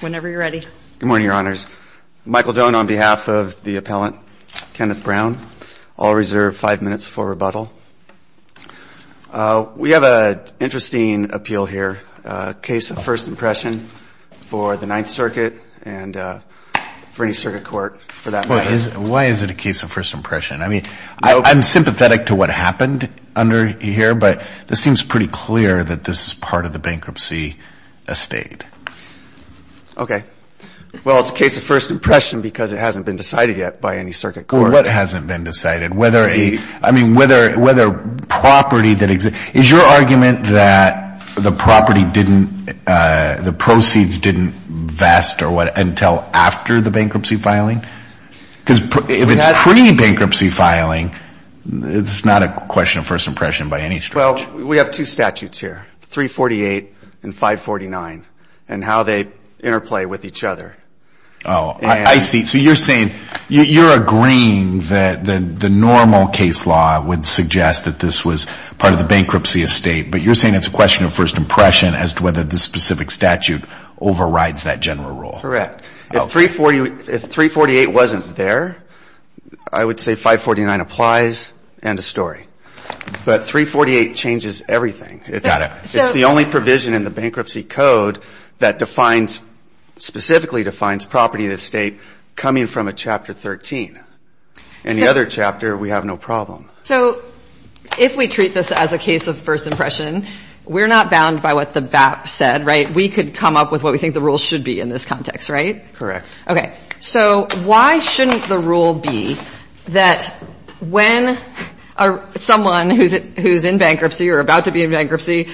Whenever you're ready. Good morning, Your Honors. Michael Doane on behalf of the appellant, Kenneth Brown. I'll reserve five minutes for rebuttal. We have an interesting appeal here, a case of first impression for the Ninth Circuit and for any circuit court for that matter. Why is it a case of first impression? I mean, I'm sympathetic to what happened under here, but this seems pretty clear that this is part of the bankruptcy estate. Okay. Well, it's a case of first impression because it hasn't been decided yet by any circuit court. Well, what hasn't been decided? Whether a, I mean, whether property that exists. Is your argument that the property didn't, the proceeds didn't vest or what, until after the bankruptcy filing? Because if it's pre-bankruptcy filing, it's not a question of first impression by any stretch. Well, we have two statutes here, 348 and 549, and how they interplay with each other. Oh, I see. So you're saying, you're agreeing that the normal case law would suggest that this was part of the bankruptcy estate, but you're saying it's a question of first impression as to whether the specific statute overrides that general rule. Correct. If 348 wasn't there, I would say 549 applies, end of story. But 348 changes everything. It's the only provision in the bankruptcy code that defines, specifically defines property of the estate coming from a Chapter 13. In the other chapter, we have no problem. So if we treat this as a case of first impression, we're not bound by what the BAP said, right? We could come up with what we think the rules should be in this context, right? Correct. Okay. So why shouldn't the rule be that when someone who's in bankruptcy or about to be in bankruptcy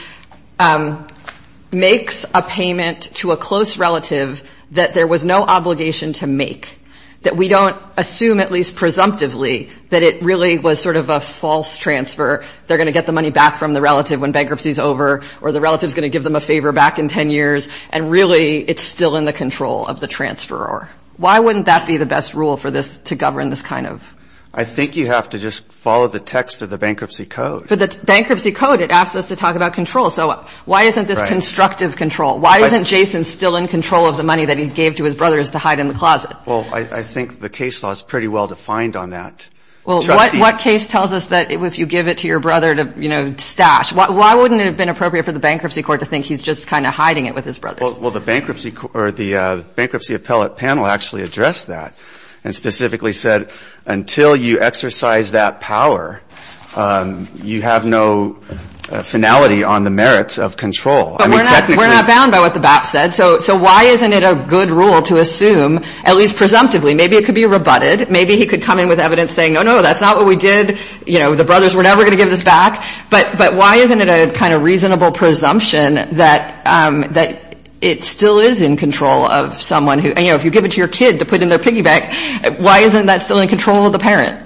makes a payment to a close relative that there was no obligation to make, that we don't assume, at least presumptively, that it really was sort of a false transfer, they're going to get the money back from the relative when bankruptcy's over, or the relative's going to give them a favor back in 10 years, and really it's still in the control of the transferor? Why wouldn't that be the best rule for this to govern this kind of ---- I think you have to just follow the text of the bankruptcy code. But the bankruptcy code, it asks us to talk about control. So why isn't this constructive control? Why isn't Jason still in control of the money that he gave to his brothers to hide in the closet? Well, I think the case law is pretty well defined on that. Well, what case tells us that if you give it to your brother to, you know, stash, why wouldn't it have been appropriate for the bankruptcy court to think he's just kind of hiding it with his brothers? Well, the bankruptcy appellate panel actually addressed that and specifically said until you exercise that power, you have no finality on the merits of control. But we're not bound by what the BAP said. So why isn't it a good rule to assume, at least presumptively, maybe it could be rebutted, maybe he could come in with evidence saying, no, no, that's not what we did, you know, the brothers were never going to give this back. But why isn't it a kind of reasonable presumption that it still is in control of someone who, you know, if you give it to your kid to put in their piggy bank, why isn't that still in control of the parent?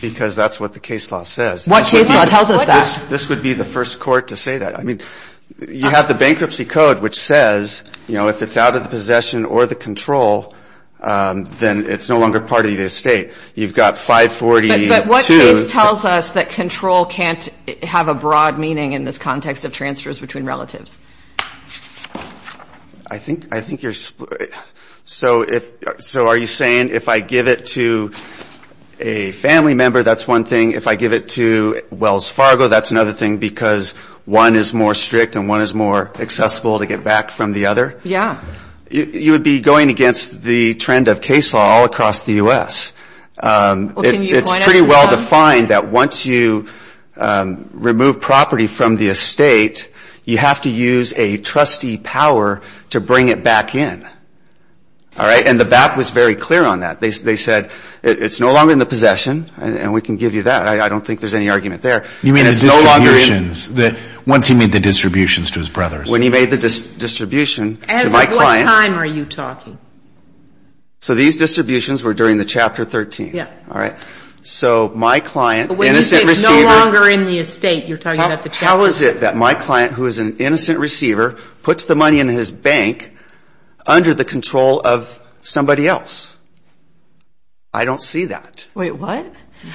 Because that's what the case law says. What case law tells us that? This would be the first court to say that. I mean, you have the bankruptcy code, which says, you know, if it's out of the possession or the control, then it's no longer part of the estate. You've got 542. But what case tells us that control can't have a broad meaning in this context of transfers between relatives? I think you're split. So are you saying if I give it to a family member, that's one thing, if I give it to Wells Fargo, that's another thing because one is more strict and one is more accessible to get back from the other? Yeah. You would be going against the trend of case law all across the U.S. It's pretty well defined that once you remove property from the estate, you have to use a trustee power to bring it back in. All right? And the BAP was very clear on that. They said it's no longer in the possession, and we can give you that. I don't think there's any argument there. You mean the distributions? Once he made the distributions to his brothers. When he made the distribution to my client. At what time are you talking? So these distributions were during the Chapter 13. Yeah. All right. So my client, innocent receiver. When you say it's no longer in the estate, you're talking about the Chapter 13. How is it that my client, who is an innocent receiver, puts the money in his bank under the control of somebody else? I don't see that. Wait, what?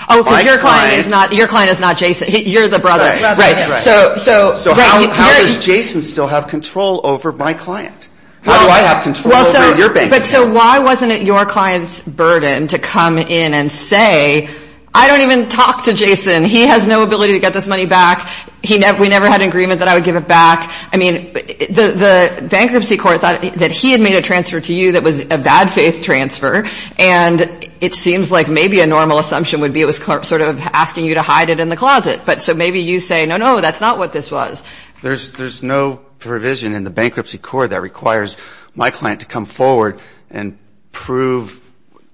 Oh, because your client is not Jason. You're the brother. Right. Right. So how does Jason still have control over my client? How do I have control over your bank? But so why wasn't it your client's burden to come in and say, I don't even talk to Jason. He has no ability to get this money back. We never had an agreement that I would give it back. I mean, the Bankruptcy Court thought that he had made a transfer to you that was a bad faith transfer, and it seems like maybe a normal assumption would be it was sort of asking you to hide it in the closet. But so maybe you say, no, no, that's not what this was. There's no provision in the Bankruptcy Court that requires my client to come forward and prove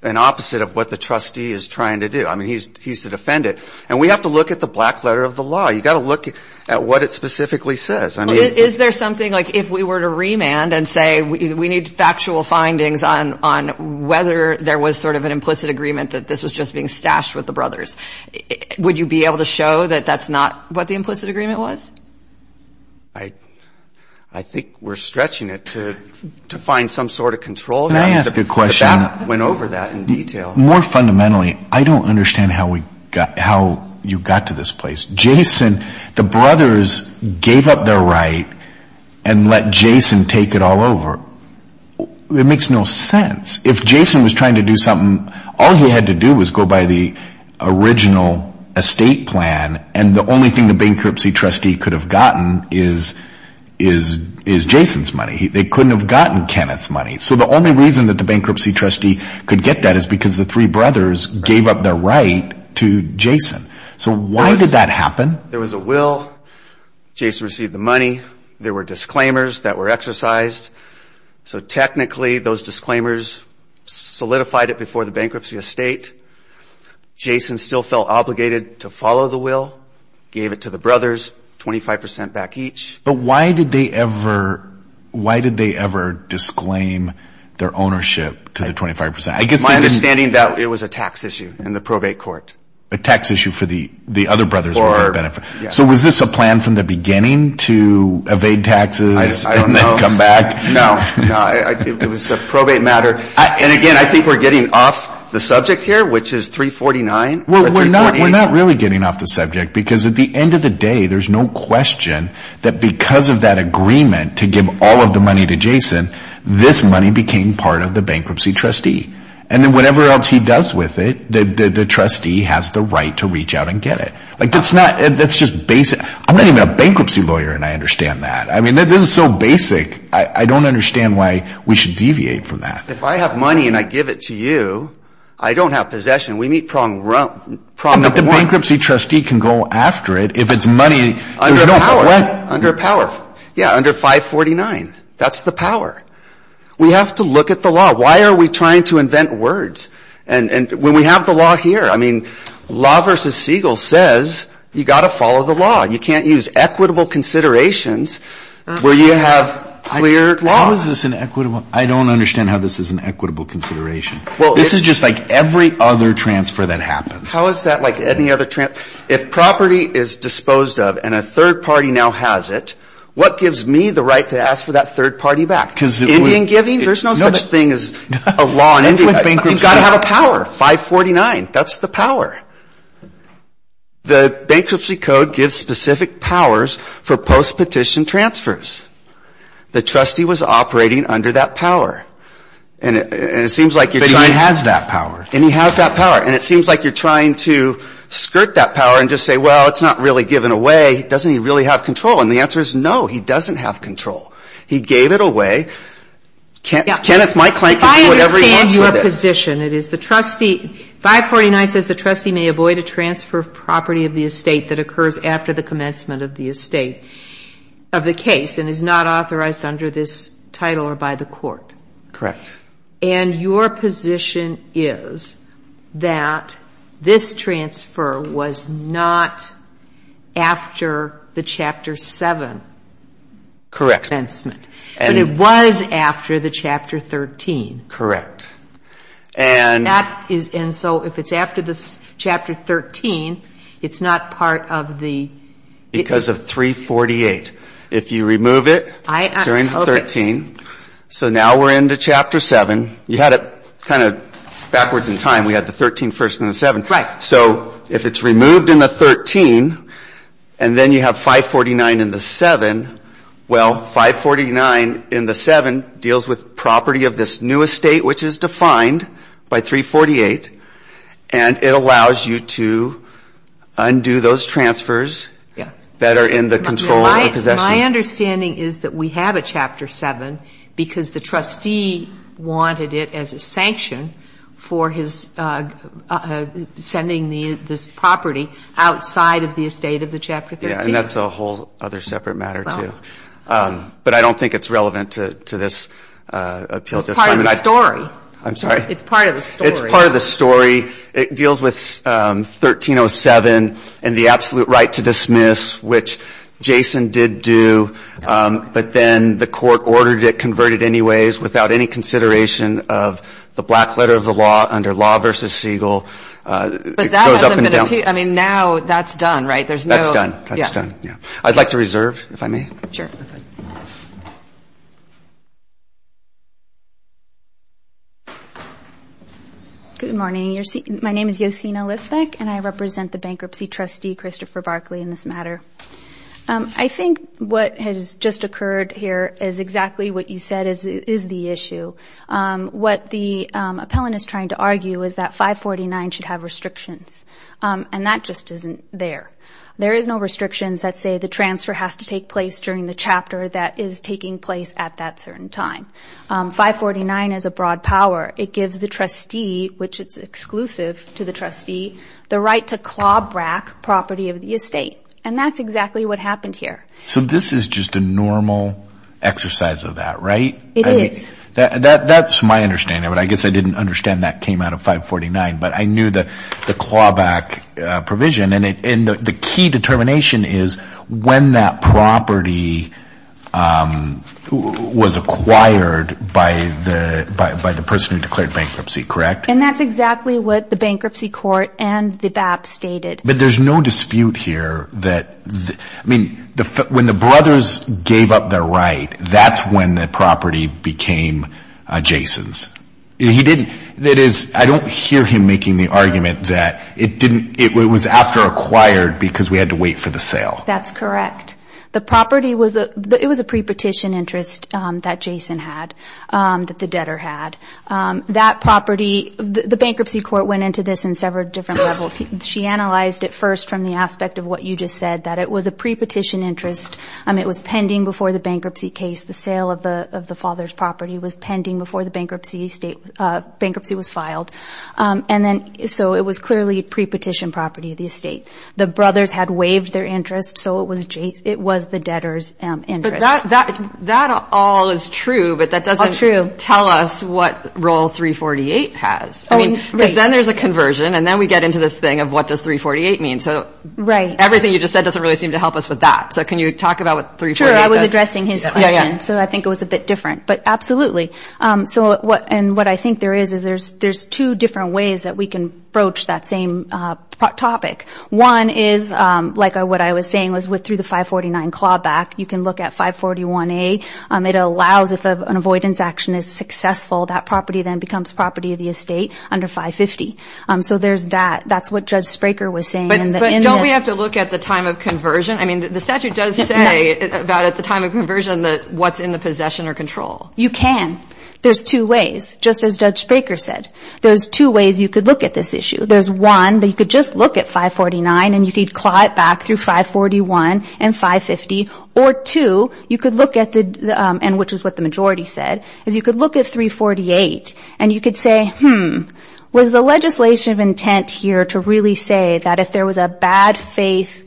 an opposite of what the trustee is trying to do. I mean, he's the defendant. And we have to look at the black letter of the law. You've got to look at what it specifically says. Is there something like if we were to remand and say we need factual findings on whether there was sort of an implicit agreement that this was just being stashed with the brothers, would you be able to show that that's not what the implicit agreement was? I think we're stretching it to find some sort of control. Can I ask a question? The Bank went over that in detail. More fundamentally, I don't understand how you got to this place. Jason, the brothers gave up their right and let Jason take it all over. It makes no sense. If Jason was trying to do something, all he had to do was go by the original estate plan and the only thing the bankruptcy trustee could have gotten is Jason's money. They couldn't have gotten Kenneth's money. So the only reason that the bankruptcy trustee could get that is because the three brothers gave up their right to Jason. So why did that happen? There was a will. Jason received the money. There were disclaimers that were exercised. So technically, those disclaimers solidified it before the bankruptcy estate. Jason still felt obligated to follow the will, gave it to the brothers 25% back each. But why did they ever disclaim their ownership to the 25%? My understanding is that it was a tax issue in the probate court. A tax issue for the other brothers. So was this a plan from the beginning to evade taxes and then come back? No. It was a probate matter. And again, I think we're getting off the subject here, which is 349. We're not really getting off the subject because at the end of the day, there's no question that because of that agreement to give all of the money to Jason, this money became part of the bankruptcy trustee. And then whatever else he does with it, the trustee has the right to reach out and get it. That's just basic. I'm not even a bankruptcy lawyer and I understand that. I mean, this is so basic. I don't understand why we should deviate from that. If I have money and I give it to you, I don't have possession. We meet problem number one. But the bankruptcy trustee can go after it if it's money. Under power. Yeah, under 549. That's the power. We have to look at the law. Why are we trying to invent words? And when we have the law here, I mean, law versus Siegel says you've got to follow the law. You can't use equitable considerations where you have clear law. How is this an equitable? I don't understand how this is an equitable consideration. This is just like every other transfer that happens. How is that like any other transfer? If property is disposed of and a third party now has it, what gives me the right to ask for that third party back? Indian giving? There's no such thing as a law in India. You've got to have a power. 549. That's the power. The bankruptcy code gives specific powers for post-petition transfers. The trustee was operating under that power. And it seems like you're trying to. But he has that power. And he has that power. And it seems like you're trying to skirt that power and just say, well, it's not really given away. Doesn't he really have control? And the answer is no, he doesn't have control. He gave it away. Kenneth, my client can do whatever he wants with it. 549 says the trustee may avoid a transfer of property of the estate that occurs after the commencement of the estate of the case and is not authorized under this title or by the court. Correct. And your position is that this transfer was not after the Chapter 7 commencement. Correct. But it was after the Chapter 13. Correct. And so if it's after the Chapter 13, it's not part of the... Because of 348. If you remove it during 13... So now we're into Chapter 7. You had it kind of backwards in time. We had the 13 first in the 7. Right. So if it's removed in the 13 and then you have 549 in the 7, well, 549 in the 7 deals with property of this new estate, which is defined by 348, and it allows you to undo those transfers that are in the control or possession. My understanding is that we have a Chapter 7 because the trustee wanted it as a sanction for his sending this property outside of the estate of the Chapter 13. And that's a whole other separate matter, too. But I don't think it's relevant to this appeal. It's part of the story. I'm sorry? It's part of the story. It's part of the story. It deals with 1307 and the absolute right to dismiss, which Jason did do, but then the court ordered it converted anyways without any consideration of the black letter of the law under Law v. Siegel. But that hasn't been appealed. I mean, now that's done, right? That's done. That's done, yeah. I'd like to reserve, if I may. Sure. Good morning. My name is Yosina Lisbeck, and I represent the bankruptcy trustee, Christopher Barkley, in this matter. I think what has just occurred here is exactly what you said is the issue. What the appellant is trying to argue is that 549 should have restrictions. And that just isn't there. There is no restrictions that say the transfer has to take place during the chapter that is taking place at that certain time. 549 is a broad power. It gives the trustee, which it's exclusive to the trustee, the right to claw-brack property of the estate. And that's exactly what happened here. So this is just a normal exercise of that, right? It is. That's my understanding, but I guess I didn't understand that came out of 549. But I knew the claw-back provision. And the key determination is when that property was acquired by the person who declared bankruptcy, correct? And that's exactly what the bankruptcy court and the BAP stated. But there's no dispute here that when the brothers gave up their right, that's when the property became Jason's. I don't hear him making the argument that it was after acquired because we had to wait for the sale. That's correct. It was a pre-petition interest that Jason had, that the debtor had. The bankruptcy court went into this in several different levels. She analyzed it first from the aspect of what you just said, that it was a pre-petition interest. It was pending before the bankruptcy case. The sale of the father's property was pending before the bankruptcy was filed. And then so it was clearly a pre-petition property of the estate. The brothers had waived their interest, so it was the debtor's interest. But that all is true, but that doesn't tell us what Rule 348 has. I mean, because then there's a conversion, and then we get into this thing of what does 348 mean. So everything you just said doesn't really seem to help us with that. So can you talk about what 348 does? Sure. I was addressing his question, so I think it was a bit different. But absolutely. And what I think there is is there's two different ways that we can broach that same topic. One is like what I was saying was through the 549 clawback. You can look at 541A. It allows if an avoidance action is successful, that property then becomes property of the estate under 550. So there's that. That's what Judge Spraker was saying. But don't we have to look at the time of conversion? I mean, the statute does say about at the time of conversion what's in the possession or control. You can. There's two ways, just as Judge Spraker said. There's two ways you could look at this issue. There's one that you could just look at 549, and you could claw it back through 541 and 550. Or two, you could look at the, and which is what the majority said, is you could look at 348, and you could say, hmm, was the legislation of intent here to really say that if there was a bad faith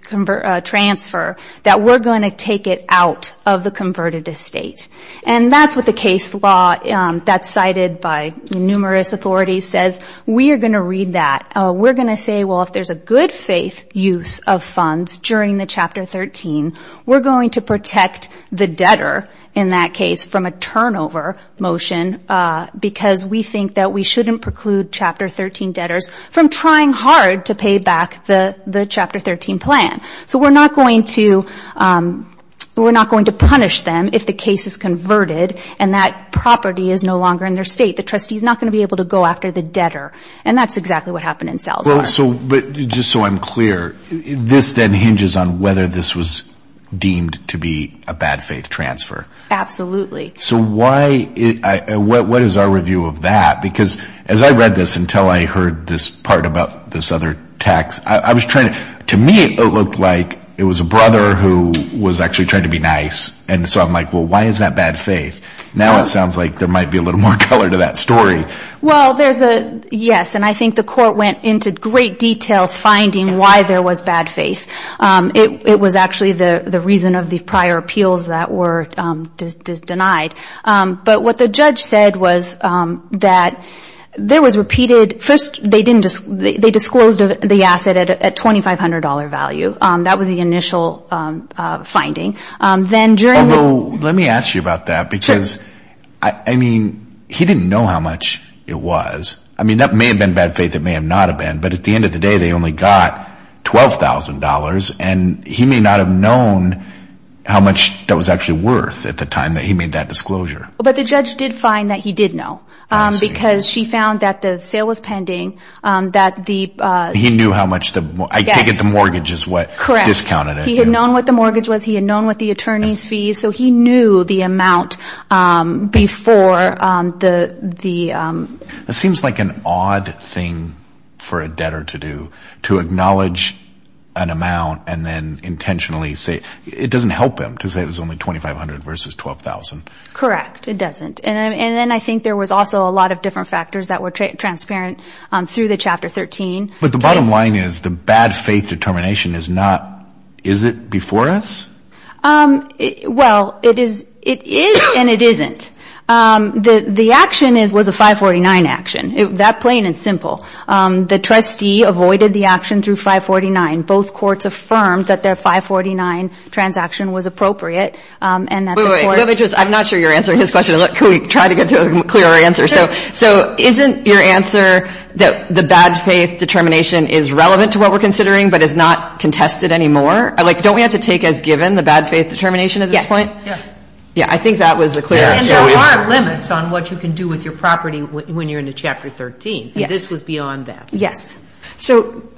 transfer, that we're going to take it out of the converted estate? And that's what the case law that's cited by numerous authorities says. We are going to read that. We're going to say, well, if there's a good faith use of funds during the Chapter 13, we're going to protect the debtor in that case from a turnover motion because we think that we shouldn't preclude Chapter 13 debtors from trying hard to pay back the Chapter 13 plan. So we're not going to punish them if the case is converted and that property is no longer in their estate. The trustee is not going to be able to go after the debtor. And that's exactly what happened in Salazar. But just so I'm clear, this then hinges on whether this was deemed to be a bad faith transfer. Absolutely. So why, what is our review of that? Because as I read this until I heard this part about this other text, I was trying to, to me, it looked like it was a brother who was actually trying to be nice. And so I'm like, well, why is that bad faith? Now it sounds like there might be a little more color to that story. Well, there's a, yes, and I think the court went into great detail finding why there was bad faith. It was actually the reason of the prior appeals that were denied. But what the judge said was that there was repeated, first they disclosed the asset at $2,500 value. That was the initial finding. Although, let me ask you about that. Because, I mean, he didn't know how much it was. I mean, that may have been bad faith. It may have not have been. But at the end of the day, they only got $12,000. And he may not have known how much that was actually worth at the time that he made that disclosure. But the judge did find that he did know. Because she found that the sale was pending. He knew how much the, I take it the mortgage is what discounted it. Correct. He had known what the mortgage was. He had known what the attorney's fees. So he knew the amount before the. It seems like an odd thing for a debtor to do, to acknowledge an amount and then intentionally say. It doesn't help him to say it was only $2,500 versus $12,000. Correct. It doesn't. And then I think there was also a lot of different factors that were transparent through the Chapter 13. But the bottom line is the bad faith determination is not, is it before us? Well, it is and it isn't. The action was a 549 action. That plain and simple. The trustee avoided the action through 549. Both courts affirmed that their 549 transaction was appropriate. I'm not sure you're answering his question. Can we try to get to a clearer answer? So isn't your answer that the bad faith determination is relevant to what we're considering but is not contested anymore? Like, don't we have to take as given the bad faith determination at this point? Yes. Yeah, I think that was the clear answer. And there are limits on what you can do with your property when you're into Chapter 13. This was beyond that. Yes. So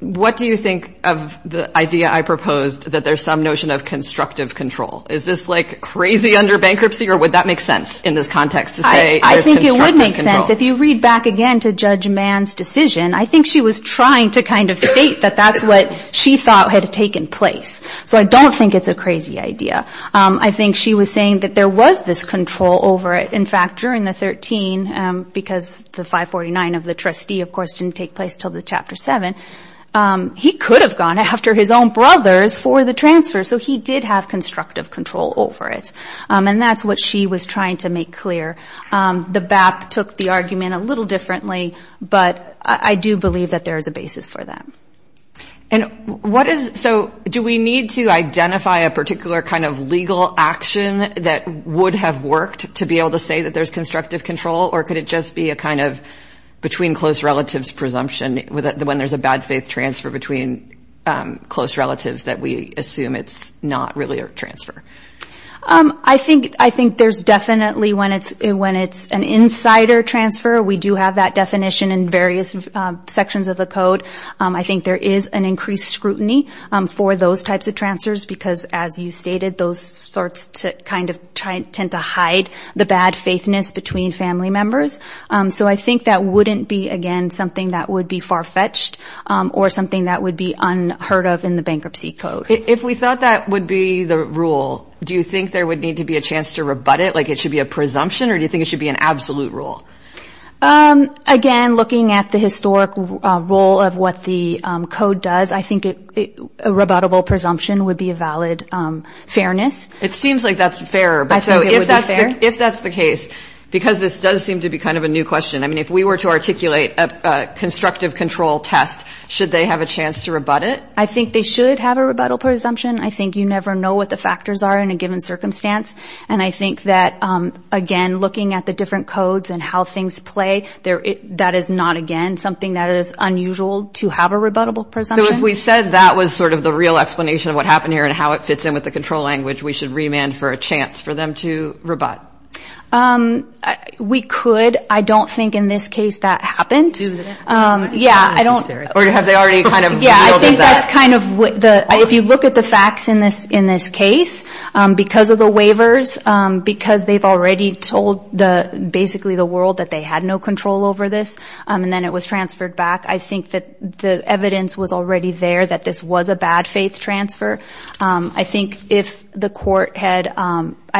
what do you think of the idea I proposed that there's some notion of constructive control? Is this like crazy under bankruptcy or would that make sense in this context to say there's constructive control? I think it would make sense. If you read back again to Judge Mann's decision, I think she was trying to kind of state that that's what she thought had taken place. So I don't think it's a crazy idea. I think she was saying that there was this control over it. In fact, during the 13, because the 549 of the trustee, of course, didn't take place until the Chapter 7, he could have gone after his own brothers for the transfer. So he did have constructive control over it. And that's what she was trying to make clear. The BAP took the argument a little differently, but I do believe that there is a basis for that. And what is – so do we need to identify a particular kind of legal action that would have worked to be able to say that there's constructive control? Or could it just be a kind of between-close-relatives presumption when there's a bad-faith transfer between close relatives that we assume it's not really a transfer? I think there's definitely – when it's an insider transfer, we do have that definition in various sections of the code. I think there is an increased scrutiny for those types of transfers because, as you stated, those sorts kind of tend to hide the bad-faithness between family members. So I think that wouldn't be, again, something that would be far-fetched or something that would be unheard of in the Bankruptcy Code. If we thought that would be the rule, do you think there would need to be a chance to rebut it, like it should be a presumption? Or do you think it should be an absolute rule? Again, looking at the historic role of what the code does, I think a rebuttable presumption would be a valid fairness. It seems like that's fairer. I think it would be fair. If that's the case, because this does seem to be kind of a new question, I mean, if we were to articulate a constructive control test, should they have a chance to rebut it? I think they should have a rebuttal presumption. I think you never know what the factors are in a given circumstance. And I think that, again, looking at the different codes and how things play, that is not, again, something that is unusual to have a rebuttable presumption. So if we said that was sort of the real explanation of what happened here and how it fits in with the control language, we should remand for a chance for them to rebut? We could. I don't think in this case that happened. Do they? Yeah, I don't. Or have they already kind of revealed that? If you look at the facts in this case, because of the waivers, because they've already told basically the world that they had no control over this and then it was transferred back, I think that the evidence was already there that this was a bad faith transfer. I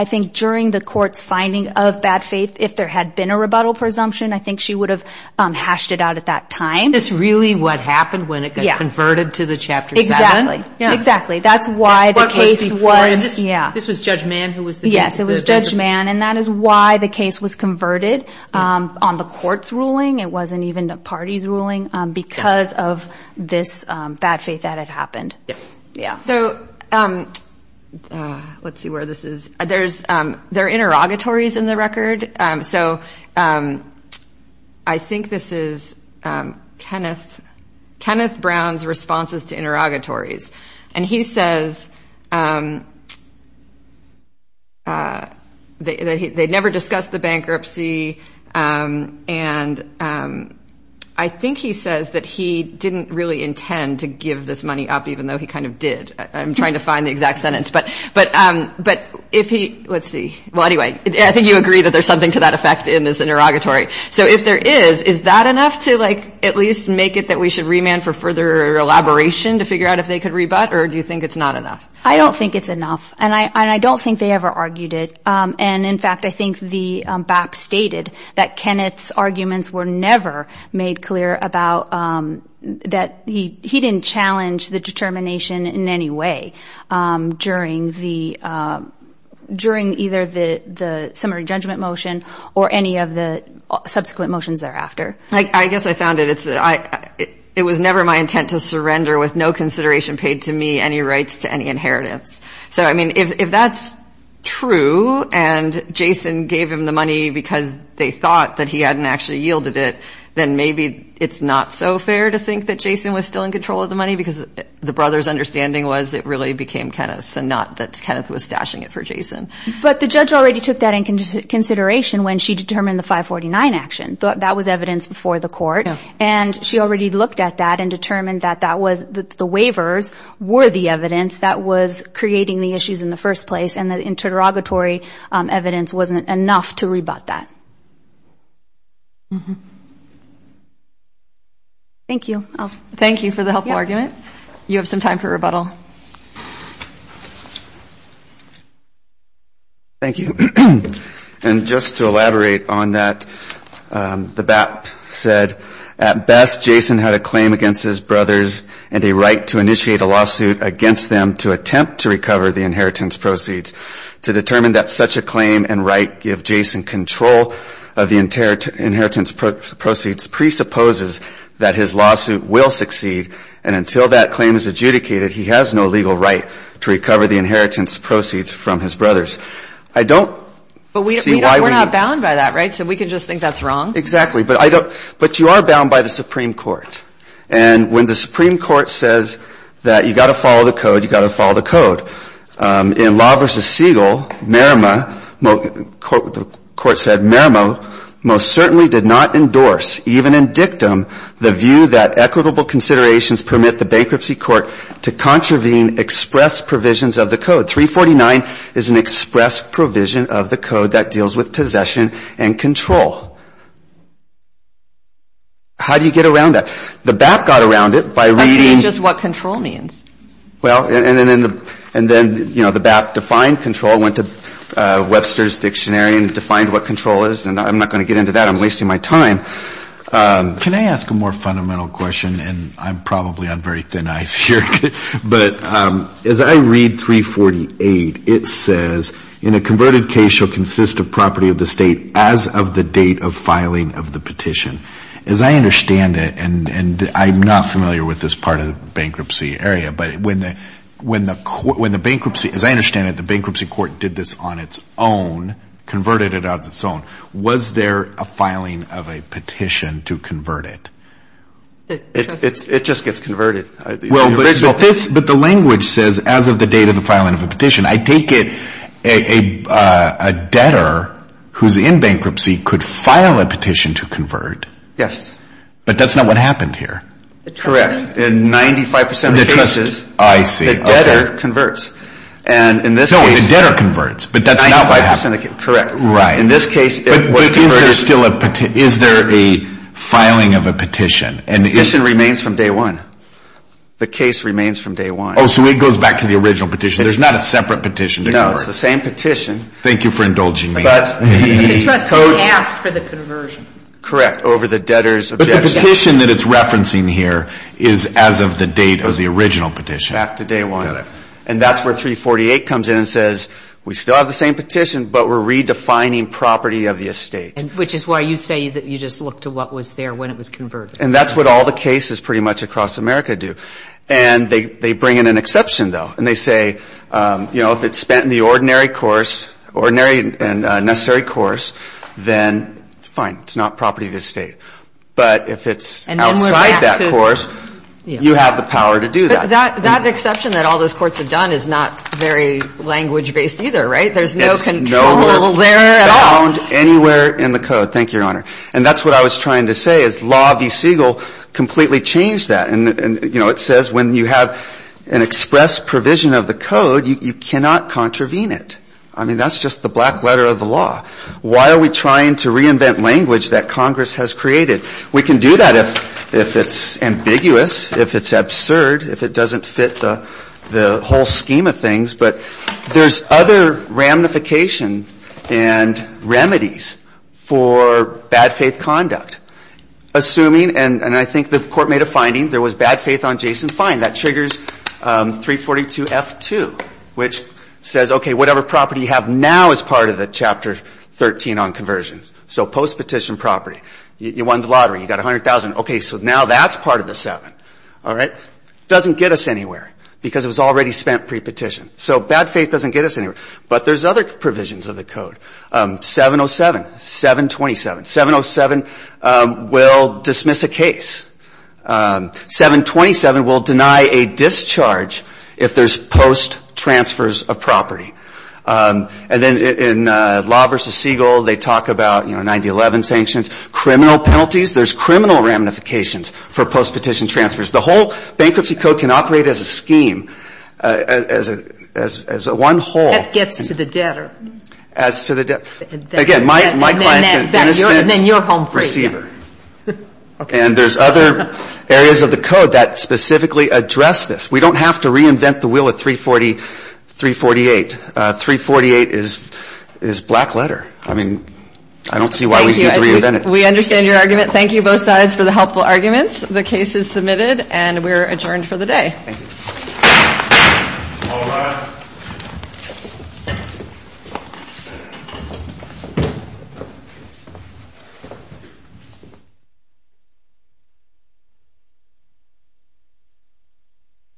think during the court's finding of bad faith, if there had been a rebuttal presumption, I think she would have hashed it out at that time. Is this really what happened when it got converted to the Chapter 7? Exactly. Exactly. That's why the case was. This was Judge Mann who was the judge? Yes, it was Judge Mann. And that is why the case was converted on the court's ruling. It wasn't even the party's ruling because of this bad faith that had happened. So let's see where this is. There are interrogatories in the record. So I think this is Kenneth Brown's responses to interrogatories. And he says they never discussed the bankruptcy. And I think he says that he didn't really intend to give this money up, even though he kind of did. I'm trying to find the exact sentence. Let's see. Well, anyway, I think you agree that there's something to that effect in this interrogatory. So if there is, is that enough to at least make it that we should remand for further elaboration to figure out if they could rebut? Or do you think it's not enough? I don't think it's enough. And I don't think they ever argued it. And, in fact, I think the BAP stated that Kenneth's arguments were never made clear about that he didn't challenge the determination in any way during either the summary judgment motion or any of the subsequent motions thereafter. I guess I found it. It was never my intent to surrender with no consideration paid to me any rights to any inheritance. So, I mean, if that's true and Jason gave him the money because they thought that he hadn't actually yielded it, then maybe it's not so fair to think that Jason was still in control of the money because the brother's understanding was it really became Kenneth's and not that Kenneth was stashing it for Jason. But the judge already took that into consideration when she determined the 549 action. That was evidence before the court. And she already looked at that and determined that that was the waivers were the evidence that was creating the issues in the first place. And the interrogatory evidence wasn't enough to rebut that. Thank you. Thank you for the helpful argument. You have some time for rebuttal. Thank you. And just to elaborate on that, the BAP said, at best, Jason had a claim against his brothers and a right to initiate a lawsuit against them to attempt to recover the inheritance proceeds. To determine that such a claim and right give Jason control of the inheritance proceeds presupposes that his lawsuit will succeed. And until that claim is adjudicated, he has no legal right to recover the inheritance proceeds from his brothers. I don't see why we're not bound by that. Right. So we can just think that's wrong. Exactly. But I don't. But you are bound by the Supreme Court. And when the Supreme Court says that you've got to follow the code, you've got to follow the code. In Law v. Siegel, Merrimah, the court said, Merrimah most certainly did not endorse, even in dictum, the view that equitable considerations permit the bankruptcy court to contravene express provisions of the code. 349 is an express provision of the code that deals with possession and control. How do you get around that? The BAP got around it by reading. That's what control means. Well, and then, you know, the BAP defined control, went to Webster's Dictionary and defined what control is. And I'm not going to get into that. I'm wasting my time. Can I ask a more fundamental question? And I'm probably on very thin ice here. But as I read 348, it says, in a converted case shall consist of property of the state as of the date of filing of the petition. As I understand it, and I'm not familiar with this part of the bankruptcy area, but when the bankruptcy, as I understand it, the bankruptcy court did this on its own, converted it on its own. Was there a filing of a petition to convert it? It just gets converted. But the language says as of the date of the filing of a petition. I take it a debtor who's in bankruptcy could file a petition to convert. Yes. But that's not what happened here. Correct. In 95% of the cases, the debtor converts. No, the debtor converts, but that's not what happened. Correct. Right. In this case, it was converted. But is there a filing of a petition? The petition remains from day one. The case remains from day one. Oh, so it goes back to the original petition. There's not a separate petition to convert. No, it's the same petition. Thank you for indulging me. But the trustee asked for the conversion. Correct, over the debtor's objection. But the petition that it's referencing here is as of the date of the original petition. Back to day one. And that's where 348 comes in and says, we still have the same petition, but we're redefining property of the estate. Which is why you say that you just look to what was there when it was converted. And that's what all the cases pretty much across America do. And they bring in an exception, though. And they say, you know, if it's spent in the ordinary course, ordinary and necessary course, then fine, it's not property of the estate. But if it's outside that course, you have the power to do that. But that exception that all those courts have done is not very language-based either, right? There's no control there at all. It's found anywhere in the code. Thank you, Your Honor. And that's what I was trying to say is law v. Siegel completely changed that. And, you know, it says when you have an express provision of the code, you cannot contravene it. I mean, that's just the black letter of the law. Why are we trying to reinvent language that Congress has created? We can do that if it's ambiguous, if it's absurd, if it doesn't fit the whole scheme of things. But there's other ramifications and remedies for bad faith conduct. Assuming, and I think the Court made a finding, there was bad faith on Jason Fine. That triggers 342F2, which says, okay, whatever property you have now is part of the Chapter 13 on conversion. So post-petition property. You won the lottery. You got $100,000. All right? Doesn't get us anywhere because it was already spent pre-petition. So bad faith doesn't get us anywhere. But there's other provisions of the code. 707, 727. 707 will dismiss a case. 727 will deny a discharge if there's post-transfers of property. And then in law v. Siegel, they talk about, you know, 9011 sanctions, criminal penalties. There's criminal ramifications for post-petition transfers. The whole bankruptcy code can operate as a scheme, as one whole. That gets to the debtor. As to the debtor. Again, my client's an innocent receiver. Then you're home free. And there's other areas of the code that specifically address this. We don't have to reinvent the wheel at 348. 348 is black letter. I mean, I don't see why we need to reinvent it. Thank you. We understand your argument. Thank you, both sides, for the helpful arguments. The case is submitted, and we're adjourned for the day. Thank you. All rise.